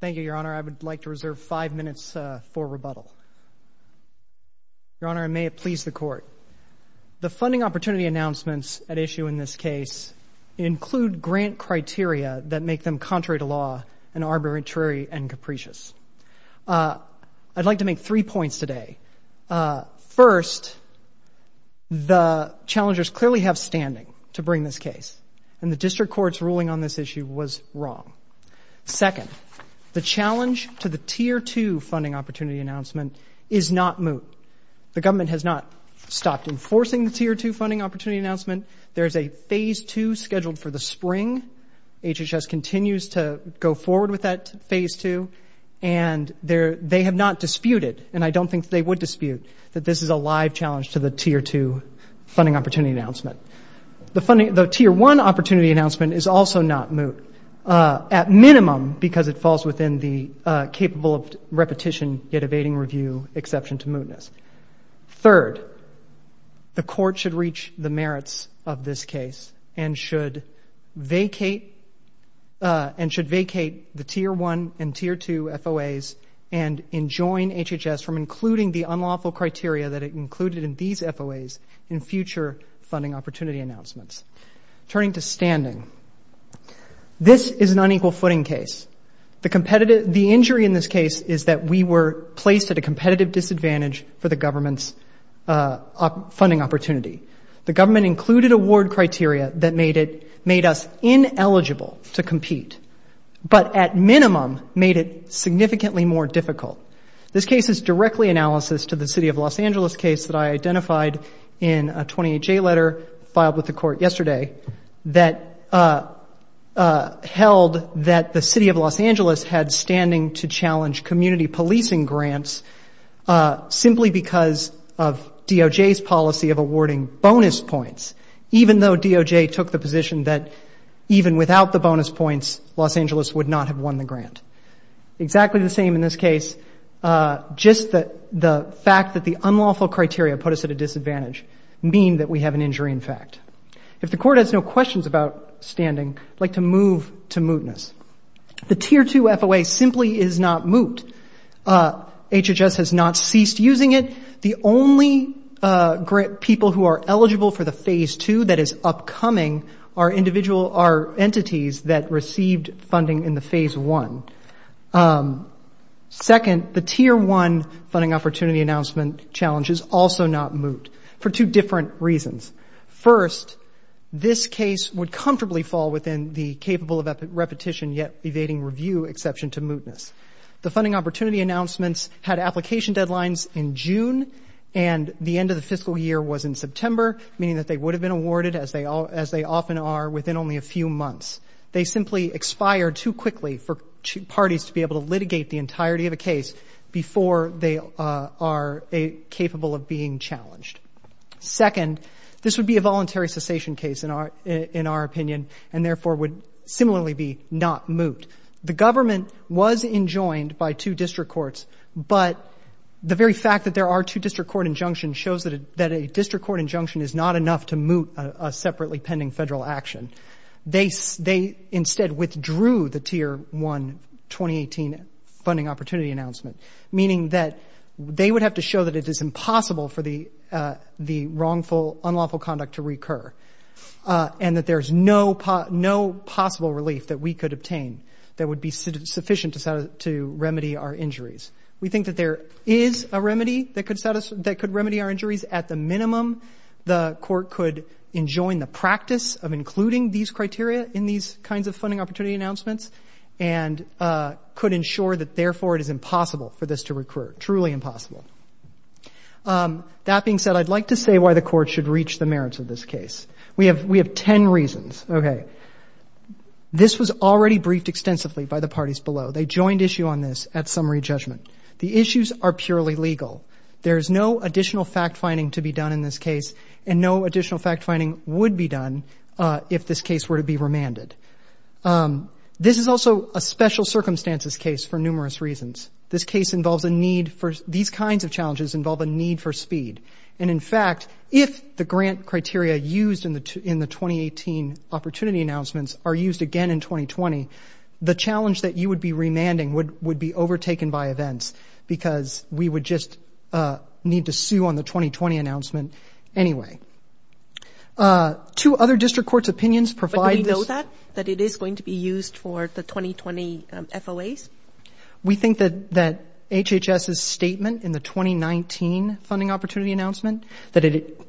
Thank you, Your Honor. I would like to reserve five minutes for rebuttal. Your Honor, may it please the Court. The funding opportunity announcements at issue in this case include grant criteria that make them contrary to law and arbitrary and capricious. I'd like to make three points today. First, the challengers clearly have standing to bring this case and the District Court's ruling on this issue was wrong. Second, the challenge to the Tier 2 funding opportunity announcement is not moot. The government has not stopped enforcing the Tier 2 funding opportunity announcement. There's a Phase 2 scheduled for the spring. HHS continues to go forward with that Phase 2, and they have not disputed, and I don't think they would dispute, that this is a live challenge to the Tier 2 funding opportunity announcement. The Tier 1 opportunity announcement is also not moot, at minimum because it falls within the capable of repetition yet evading review exception to mootness. Third, the Court should reach the merits of this case and should vacate the Tier 1 and Tier 2 FOAs and enjoin HHS from including the unlawful criteria that it included in these FOAs in future funding opportunity announcements. Turning to standing, this is an unequal footing case. The injury in this case is that we were placed at a competitive disadvantage for the government's funding opportunity. The government included award criteria that made us ineligible to compete, but at minimum made it significantly more difficult. This case is directly analysis to the City of Los Angeles case that I identified in a 28J letter filed with the Court yesterday that held that the City of Los Angeles had standing to challenge community policing grants simply because of DOJ's policy of awarding bonus points, even though DOJ took the position that even without the bonus points, Los Angeles would not have won the grant. Exactly the same in this case, just the fact that the unlawful criteria put us at a disadvantage mean that we have an injury in fact. If the Court has no questions about standing, I'd The Tier 2 FOA simply is not moot. HHS has not ceased using it. The only people who are eligible for the Phase 2 that is upcoming are entities that received funding in the Phase 1. Second, the Tier 1 funding opportunity announcement challenge is also not moot for two different reasons. First, this case would comfortably fall within the capable of repetition yet evading review exception to mootness. The funding opportunity announcements had application deadlines in June and the end of the fiscal year was in September, meaning that they would have been awarded as they often are within only a few months. They simply expire too quickly for parties to be able to litigate the entirety of a case before they are capable of being challenged. Second, this would be a voluntary cessation case in our opinion and therefore would similarly be not moot. The government was enjoined by two district courts, but the very fact that there are two district court injunctions shows that a district court injunction is not enough to moot a separately pending federal action. They instead withdrew the Tier 1 2018 funding opportunity announcement, meaning that they would have to show that it is impossible for the wrongful, unlawful conduct to recur and that there is no possible relief that we could obtain that would be sufficient to remedy our injuries. We think that there is a remedy that could remedy our injuries at the minimum. The court could enjoin the practice of including these criteria in these kinds of funding opportunity announcements and could ensure that therefore it is impossible for this to recur, truly impossible. That being said, I would like to say why the Court should reach the merits of this case. We have ten reasons. Okay. This was already briefed extensively by the parties below. They joined issue on this at summary judgment. The issues are purely legal. There is no additional fact-finding to be done in this case and no additional fact-finding would be done if this case were to be remanded. This is also a special circumstances case for numerous reasons. This case involves a need for, these kinds of challenges involve a need for speed. And in fact, if the grant criteria used in the 2018 opportunity announcements are used again in 2020, the challenge that you would be remanding would be overtaken by events because we would just need to sue on the 2020 announcement anyway. Two other District Courts' opinions provide this. But do we know that, that it is going to be used for the 2020 FOAs? We think that HHS's statement in the 2019 funding opportunity announcement, that it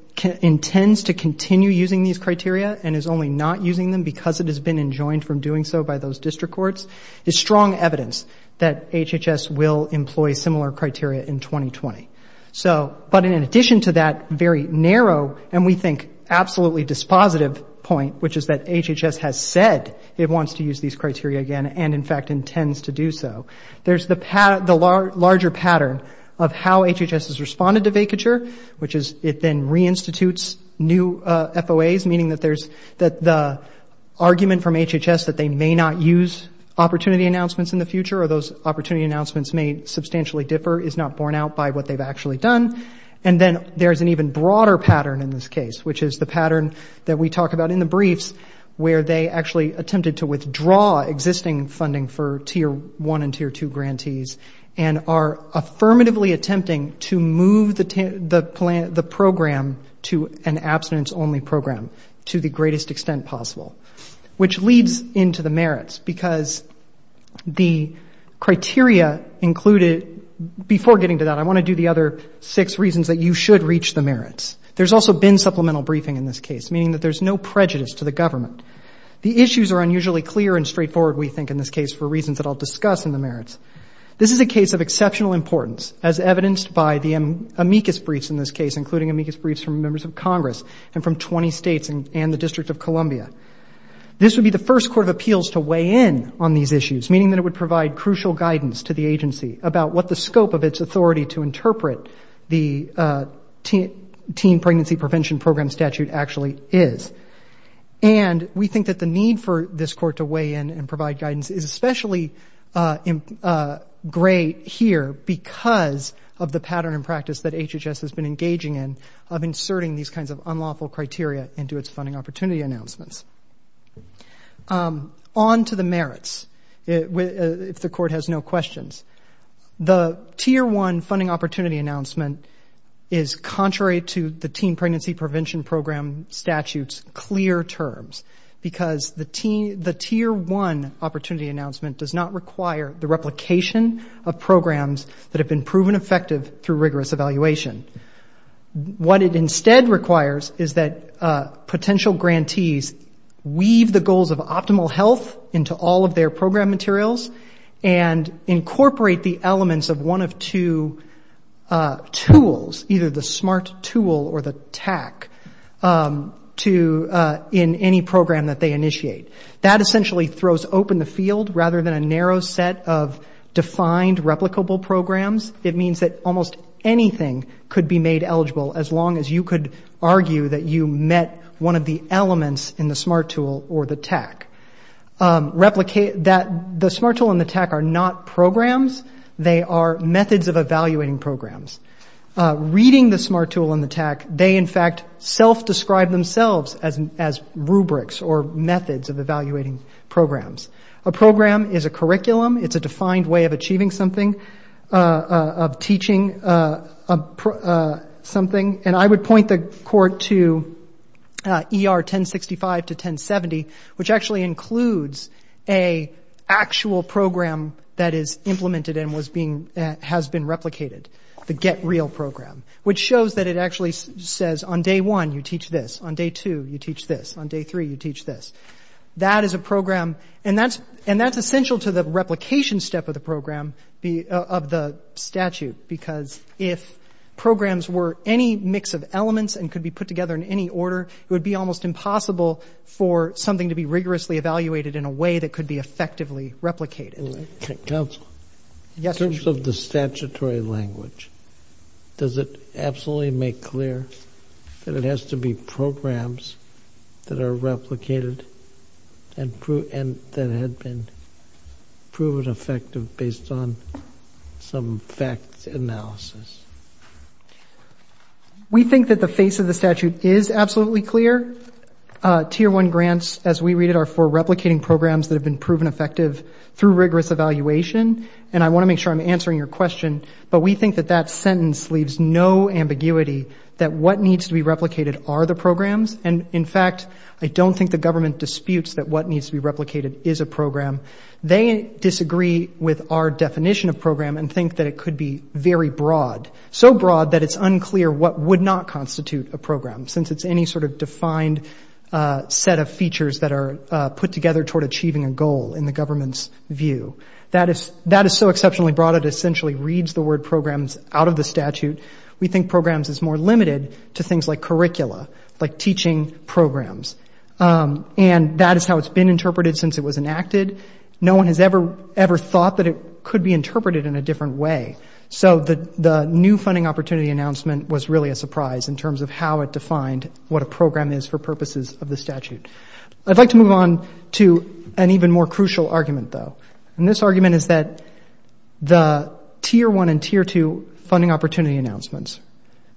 intends to continue using these criteria and is only not using them because it has been enjoined from doing so by those District Courts, is strong evidence that HHS will employ similar criteria in 2020. So, but in addition to that very narrow and we think absolutely dispositive point, which is that HHS has said it wants to use these criteria again and in fact intends to do so, there's the larger pattern of how HHS has responded to vacature, which is it then reinstitutes new FOAs, meaning that there's, that the argument from HHS that they may not use opportunity announcements in the future or those opportunity announcements may substantially differ is not borne out by what they've actually done. And then there's an even broader pattern in this case, which is the pattern that we talk about in the briefs where they actually attempted to withdraw existing funding for Tier 1 and Tier 2 grantees and are affirmatively attempting to move the program to an abstinence-only program to the greatest extent possible, which leads into the merits because the criteria included, before getting to that, I want to do the other six supplemental briefing in this case, meaning that there's no prejudice to the government. The issues are unusually clear and straightforward, we think, in this case, for reasons that I'll discuss in the merits. This is a case of exceptional importance as evidenced by the amicus briefs in this case, including amicus briefs from members of Congress and from 20 states and the District of Columbia. This would be the first court of appeals to weigh in on these issues, meaning that it would provide crucial guidance to the agency about what the scope of its authority to interpret the teen pregnancy prevention program statute actually is. And we think that the need for this court to weigh in and provide guidance is especially great here because of the pattern and practice that HHS has been engaging in of inserting these kinds of unlawful criteria into its funding opportunity announcements. On to the merits, if the court has no questions. The Tier 1 funding opportunity announcement is contrary to the teen pregnancy prevention program statute's clear terms because the Tier 1 opportunity announcement does not require the replication of programs that have been proven effective through rigorous evaluation. What it instead requires is that potential grantees weave the goals of optimal health into all of their program materials and incorporate the elements of one of two tools, either the SMART tool or the TAC, in any program that they initiate. That essentially throws open the field rather than a narrow set of defined replicable programs. It means that almost anything could be made eligible as long as you could argue that you met one of the elements in the SMART tool or the TAC. The SMART tool and the TAC are not programs. They are methods of evaluating programs. Reading the SMART tool and the TAC, they in fact self-describe themselves as rubrics or methods of evaluating programs. A program is a curriculum. It's a defined way of achieving something, of teaching something. And I would point the court to ER 1065 to 1070, which actually includes an actual program that is implemented and has been replicated, the Get Real program, which shows that it actually says on day one, you teach this. On day two, you teach this. On day three, you teach this. That is a program, and that's essential to the of the statute, because if programs were any mix of elements and could be put together in any order, it would be almost impossible for something to be rigorously evaluated in a way that could be effectively replicated. Counsel, in terms of the statutory language, does it absolutely make clear that it has to be programs that are replicated and that had been proven effective based on some facts analysis? We think that the face of the statute is absolutely clear. Tier 1 grants, as we read it, are for replicating programs that have been proven effective through rigorous evaluation, and I want to make sure I'm answering your question, but we think that that sentence leaves no ambiguity that what needs to be replicated are the programs. In fact, I don't think the government disputes that what needs to be replicated is a program. They disagree with our definition of program and think that it could be very broad, so broad that it's unclear what would not constitute a program, since it's any sort of defined set of features that are put together toward achieving a goal in the government's view. That is so exceptionally broad, it essentially reads the word programs out of the statute. We think programs is more limited to things like curricula, like teaching programs, and that is how it's been interpreted since it was enacted. No one has ever thought that it could be interpreted in a different way, so the new funding opportunity announcement was really a surprise in terms of how it defined what a program is for purposes of the statute. I'd like to move on to an even more crucial argument, though, and this argument is that the tier one and tier two funding opportunity announcements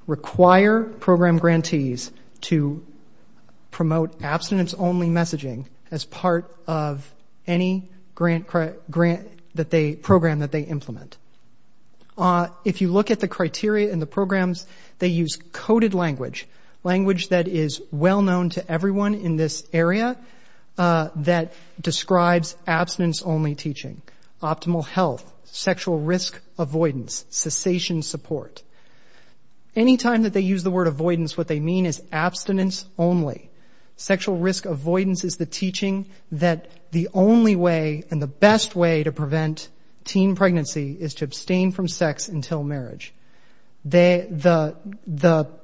require program grantees to promote abstinence-only messaging as part of any grant that they program that they implement. If you look at the criteria in the programs, they use coded language, language that is well known to everyone in this area that describes abstinence-only teaching. Optimal health, sexual risk avoidance, cessation support. Anytime that they use the word avoidance, what they mean is abstinence-only. Sexual risk avoidance is the teaching that the only way and the best way to prevent teen pregnancy is to abstain from sex until marriage. The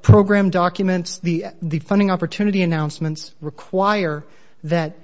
program documents, the funding opportunity announcements require that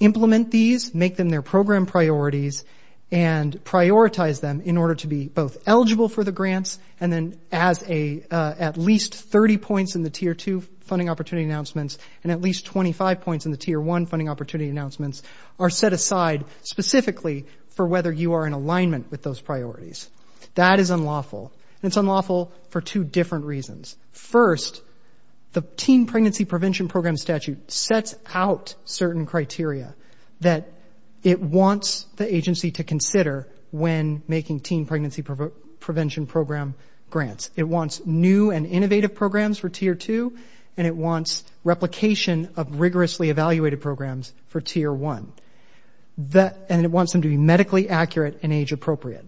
implement these, make them their program priorities, and prioritize them in order to be both eligible for the grants and then as at least 30 points in the tier two funding opportunity announcements and at least 25 points in the tier one funding opportunity announcements are set aside specifically for whether you are in alignment with those priorities. That is unlawful, and it's unlawful for two different reasons. First, the teen pregnancy program statute sets out certain criteria that it wants the agency to consider when making teen pregnancy prevention program grants. It wants new and innovative programs for tier two, and it wants replication of rigorously evaluated programs for tier one. And it wants them to be medically accurate and age appropriate.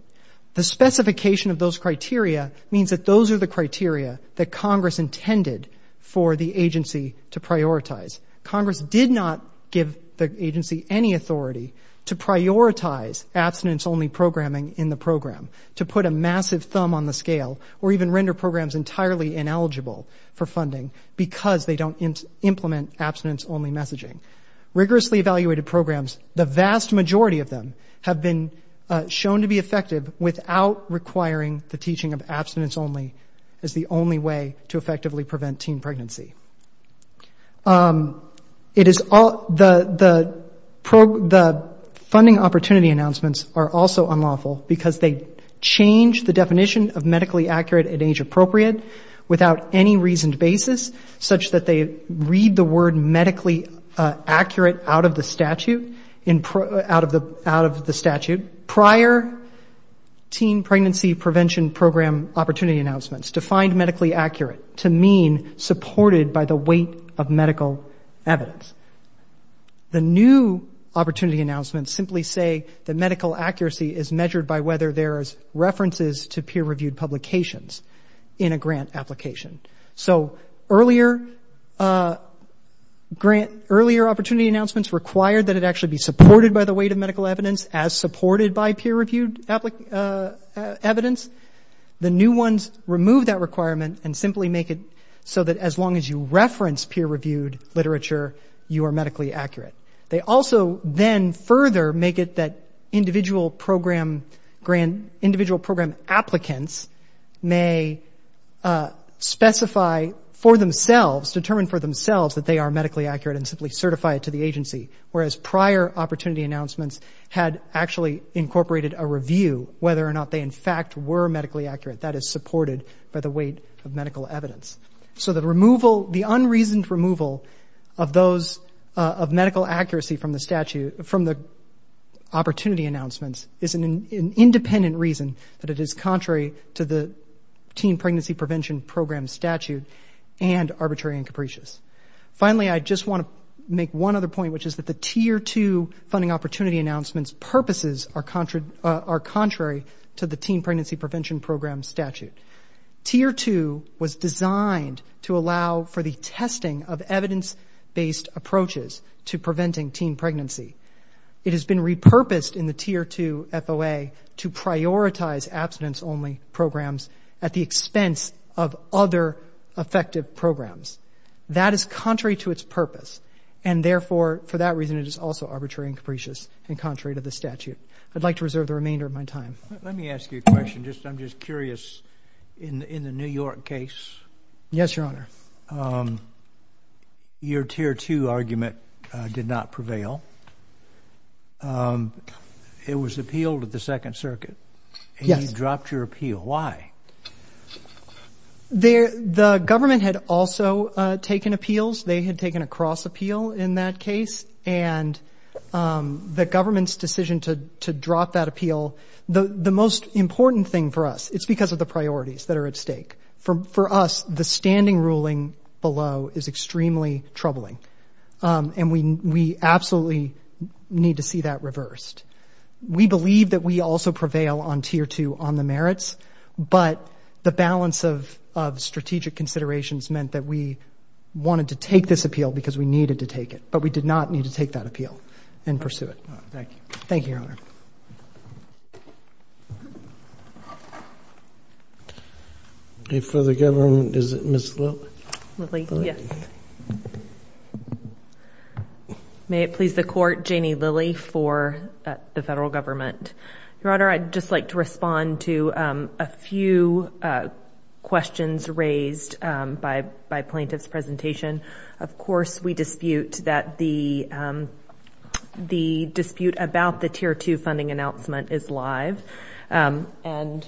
The specification of those criteria means that those are the criteria that Congress intended for the agency to prioritize. Congress did not give the agency any authority to prioritize abstinence-only programming in the program, to put a massive thumb on the scale, or even render programs entirely ineligible for funding because they don't implement abstinence-only messaging. Rigorously evaluated programs, the vast majority of them, have been shown to be effective without requiring the teaching of abstinence-only as the only way to effectively prevent teen pregnancy. The funding opportunity announcements are also unlawful because they change the definition of medically accurate and age appropriate without any reasoned basis, such that they read the word medically accurate out of the statute. Prior teen pregnancy prevention program opportunity announcements defined medically accurate to mean supported by the weight of medical evidence. The new opportunity announcements simply say that medical accuracy is measured by whether there's references to peer-reviewed publications in a grant application. So earlier opportunity announcements required that it actually be supported by the weight of medical evidence as supported by peer-reviewed evidence. The new ones remove that requirement and simply make it so that as long as you reference peer-reviewed literature, you are medically accurate. They also then further make it that individual program applicants may specify for themselves, determine for themselves that they are medically accurate and simply certify it to the agency. Whereas prior opportunity announcements had actually incorporated a review whether or not they in fact were medically accurate. That is supported by the weight of medical evidence. So the removal, the unreasoned removal of those, of medical accuracy from the statute, from the opportunity announcements is an independent reason that it is contrary to the teen pregnancy prevention program statute and arbitrary and capricious. Finally, I just want to make one other point, which is that the Tier 2 funding opportunity announcements purposes are contrary to the teen pregnancy prevention program statute. Tier 2 was designed to allow for the testing of evidence-based approaches to preventing teen pregnancy. It has been repurposed in the Tier 2 FOA to prioritize abstinence-only programs at the expense of other effective programs. That is contrary to its purpose. And therefore, for that reason, it is also arbitrary and capricious and contrary to the statute. I'd like to reserve the remainder of my time. Roberts. Let me ask you a question. I'm just curious. In the New York case, your Tier 2 argument did not prevail. It was appealed at the Second Circuit. And you dropped your appeal. Why? The government had also taken appeals. They had taken a cross appeal in that case. And the government's decision to drop that appeal, the most important thing for us, it's because of the priorities that are at stake. For us, the standing ruling below is extremely troubling. And we absolutely need to see that reversed. We believe that we also prevail on Tier 2 on the merits, but the balance of strategic considerations meant that we wanted to take this appeal because we needed to take it. But we did not need to take that appeal and pursue it. Thank you, Your Honor. Any further government? Is it Ms. Lilley? Lilley, yes. May it please the Court, Janie Lilley for the federal government. Your Honor, I'd just like to respond to a few questions raised by plaintiff's presentation. Of course, we dispute that the dispute about the Tier 2 funding announcement is live. And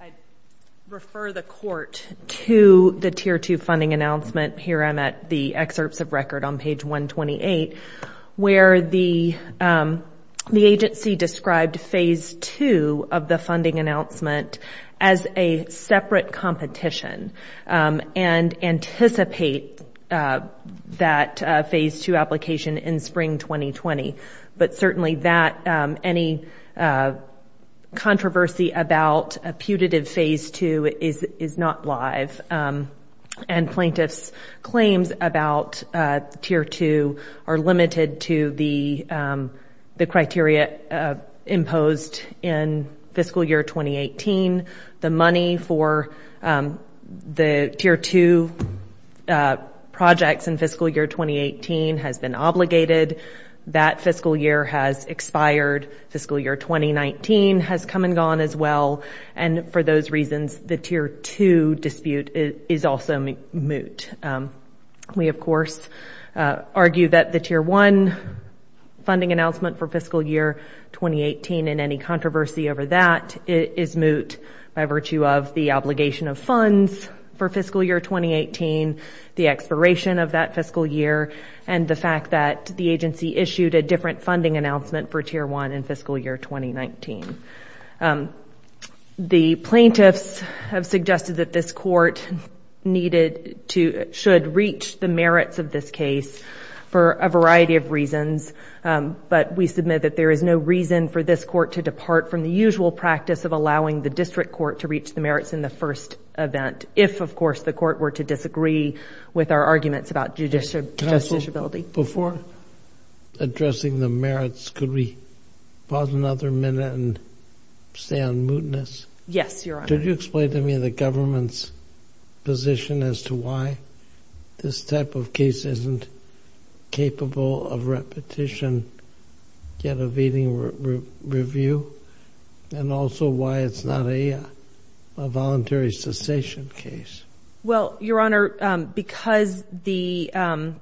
I refer the Court to the Tier 2 funding announcement. Here I'm at the excerpts of agency described Phase 2 of the funding announcement as a separate competition and anticipate that Phase 2 application in spring 2020. But certainly that any controversy about a putative Phase 2 is not live. And plaintiff's claims about Tier 2 are limited to the criteria imposed in fiscal year 2018. The money for the Tier 2 projects in fiscal year 2018 has been obligated. That fiscal year has expired. Fiscal year 2019 has come and gone as well. And for those reasons, the Tier 2 dispute is also moot. We, of course, argue that the Tier 1 funding announcement for fiscal year 2018 and any controversy over that is moot by virtue of the obligation of funds for fiscal year 2018, the expiration of that fiscal year, and the fact that the agency issued a different funding announcement for Tier 1 in fiscal year 2019. The plaintiffs have suggested that this Court needed to, should reach the merits of this case for a variety of reasons. But we submit that there is no reason for this Court to depart from the usual practice of allowing the District Court to reach the merits in the first event. If, of course, the Court were to disagree with our arguments about judicial disability. Before addressing the merits, could we pause another minute and on mootness? Yes, Your Honor. Could you explain to me the government's position as to why this type of case isn't capable of repetition, yet evading review, and also why it's not a voluntary cessation case? Well, Your Honor, because it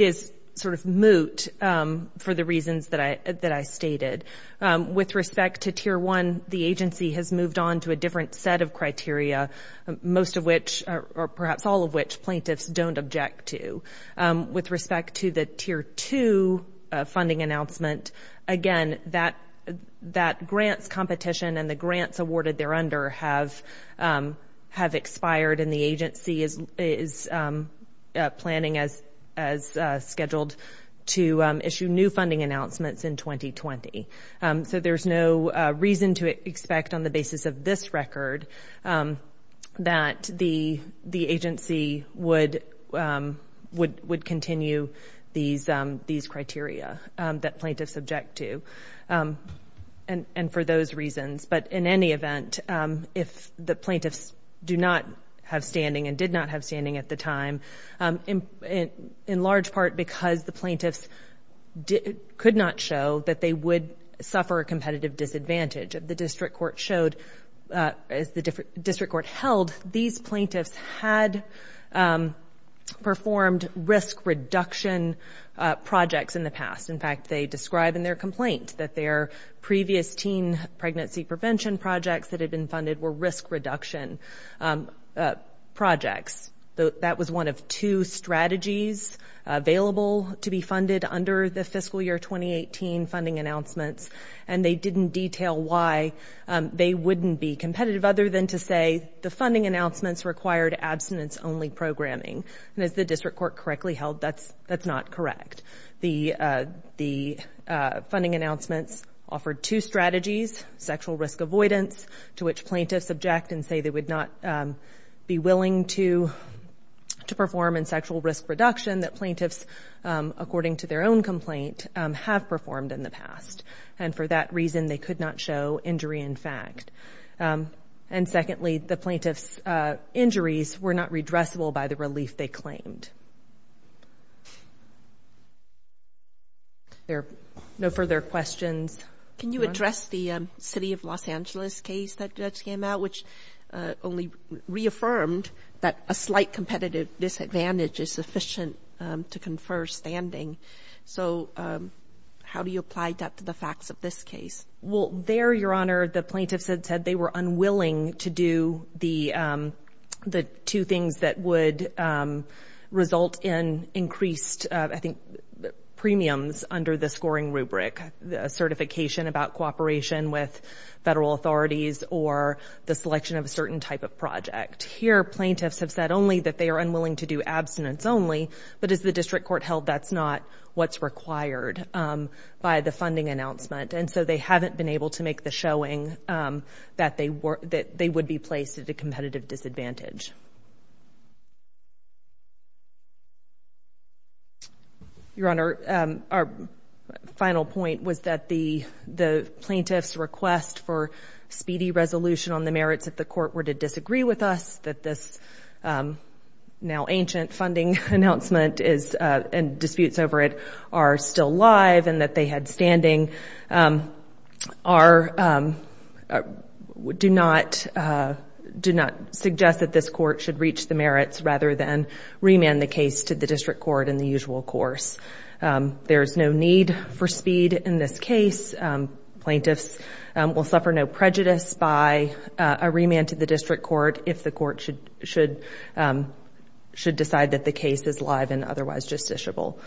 is sort of moot for the reasons that I stated. With respect to Tier 1, the agency has moved on to a different set of criteria, most of which, or perhaps all of which, plaintiffs don't object to. With respect to the Tier 2 funding announcement, again, that grants competition and the grants awarded thereunder have expired and the agency is planning, as scheduled, to issue new funding announcements in 2020. So there's no reason to expect, on the basis of this record, that the agency would continue these criteria that plaintiffs object to, and for those reasons. But in any event, if the plaintiffs do not have standing and did not have standing at the time, in large part because the plaintiffs could not show that they would suffer a competitive disadvantage. The district court showed, as the district court held, these plaintiffs had performed risk reduction projects in the past. In fact, they describe in their complaint that their previous teen pregnancy prevention projects that had been funded were risk reduction projects. That was one of two strategies available to be funded under the fiscal year 2018 funding announcements, and they didn't detail why they wouldn't be competitive, other than to say the funding announcements required abstinence-only programming. And as the district court correctly held, that's not correct. The funding announcements offered two strategies, sexual risk avoidance, to which plaintiffs object and say they would not be willing to perform in sexual risk reduction that plaintiffs, according to their own complaint, have performed in the past. And for that reason, they could not show injury in fact. And secondly, the plaintiffs' injuries were not redressable by relief they claimed. There are no further questions. Can you address the city of Los Angeles case that just came out, which only reaffirmed that a slight competitive disadvantage is sufficient to confer standing. So how do you apply that to the facts of this case? Well, there, Your Honor, the plaintiffs had said they were unwilling to do the two things that would result in increased, I think, premiums under the scoring rubric, the certification about cooperation with federal authorities or the selection of a certain type of project. Here, plaintiffs have said only that they are unwilling to do abstinence-only, but as the district court held, that's not what's required by the funding announcement. And so they haven't been able to make the showing that they would be placed at a competitive disadvantage. Your Honor, our final point was that the plaintiffs' request for speedy resolution on the merits of the court were to disagree with us, that this now-ancient funding announcement and disputes over it are still live and that they had standing do not suggest that this court should reach the courts rather than remand the case to the district court in the usual course. There's no need for speed in this case. Plaintiffs will suffer no prejudice by a remand to the district court if the court should decide that the case is live and otherwise justiciable.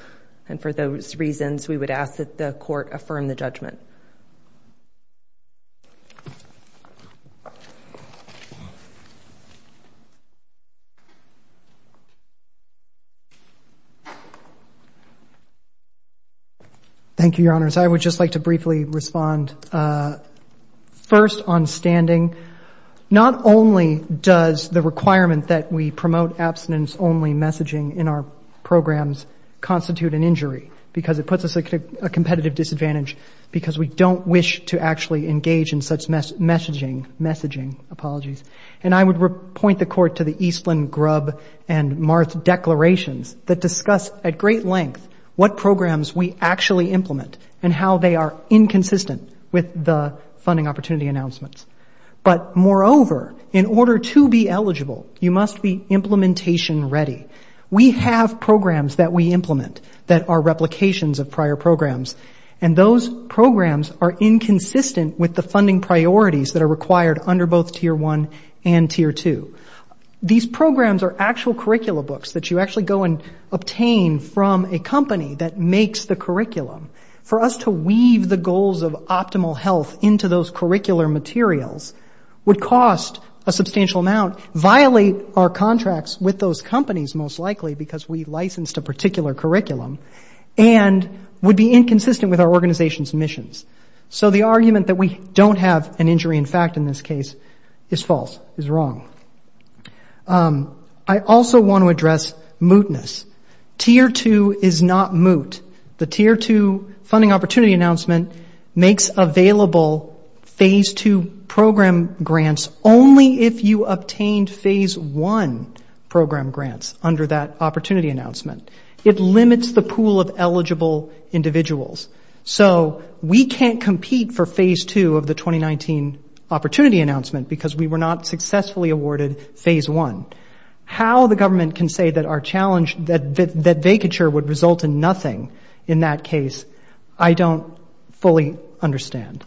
And for those reasons, we would ask that the court affirm the judgment. Thank you, Your Honors. I would just like to briefly respond first on standing. Not only does the requirement that we promote abstinence-only messaging in our programs constitute an injury because it puts us at a competitive disadvantage because we don't wish to actually engage in such messaging. And I would point the court to the Eastland, Grubb, and Marth declarations that discuss at great length what programs we actually implement and how they are inconsistent with the funding opportunity announcements. But moreover, in order to be eligible, you must be implementation ready. We have programs that we implement that are replications of prior programs. And those programs are inconsistent with the funding priorities that are required under both Tier 1 and Tier 2. These programs are actual curricula books that you actually go and obtain from a company that makes the curriculum. For us to weave the goals of optimal health into those most likely because we licensed a particular curriculum and would be inconsistent with our organization's missions. So the argument that we don't have an injury in fact in this case is false, is wrong. I also want to address mootness. Tier 2 is not moot. The Tier 2 funding opportunity announcement makes available Phase 2 program grants only if you obtained Phase 1 program grants under that opportunity announcement. It limits the pool of eligible individuals. So we can't compete for Phase 2 of the 2019 opportunity announcement because we were not successfully awarded Phase 1. How the government can say that vacature would result in nothing in that case, I don't fully understand.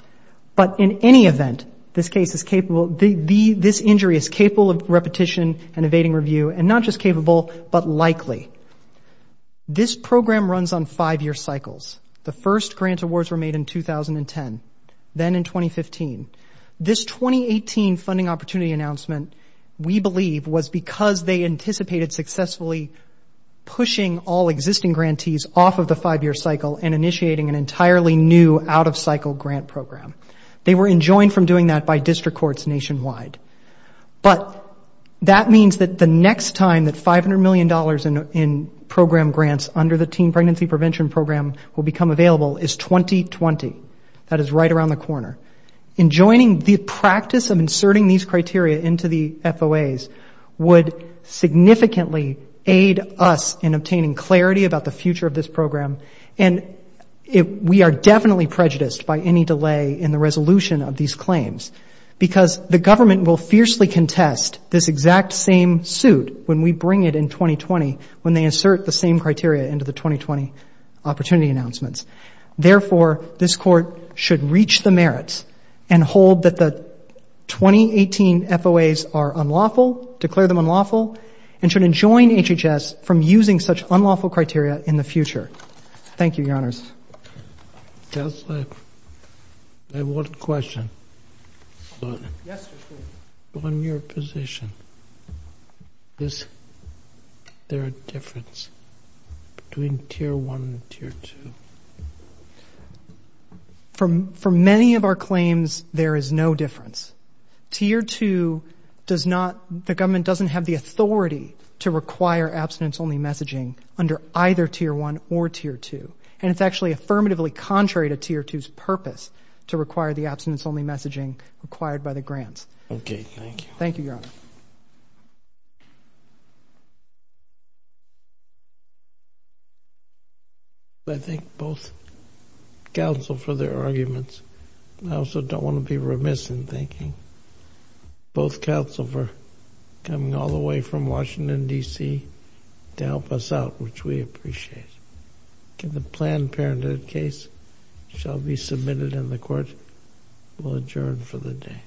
But in any event, this injury is capable of repetition and evading review and not just capable but likely. This program runs on five-year cycles. The first grant awards were made in 2010, then in 2015. This 2018 funding opportunity announcement we believe was because they anticipated successfully pushing all existing grantees off of the five-year cycle and initiating an entirely new out-of-cycle grant program. They were enjoined from doing that by district courts nationwide. But that means that the next time that $500 million in program grants under the Teen Pregnancy Prevention Program will become available is 2020. That is right around the corner. Enjoining the practice of inserting these criteria into the FOAs would significantly aid us in obtaining clarity about the future of this resolution of these claims because the government will fiercely contest this exact same suit when we bring it in 2020 when they insert the same criteria into the 2020 opportunity announcements. Therefore, this Court should reach the merits and hold that the 2018 FOAs are unlawful, declare them unlawful, and should enjoin HHS from using such unlawful criteria in the future. Thank you, Your Honors. I have one question. On your position, is there a difference between Tier 1 and Tier 2? For many of our claims, there is no difference. Tier 2 does not, the government doesn't have the And it's actually affirmatively contrary to Tier 2's purpose to require the abstinence-only messaging required by the grants. Okay, thank you. Thank you, Your Honor. I thank both counsel for their arguments. I also don't want to be remiss in thanking both counsel for coming all the way from Washington, D.C. to help us out, which we appreciate. The Planned Parenthood case shall be submitted, and the Court will adjourn for the day.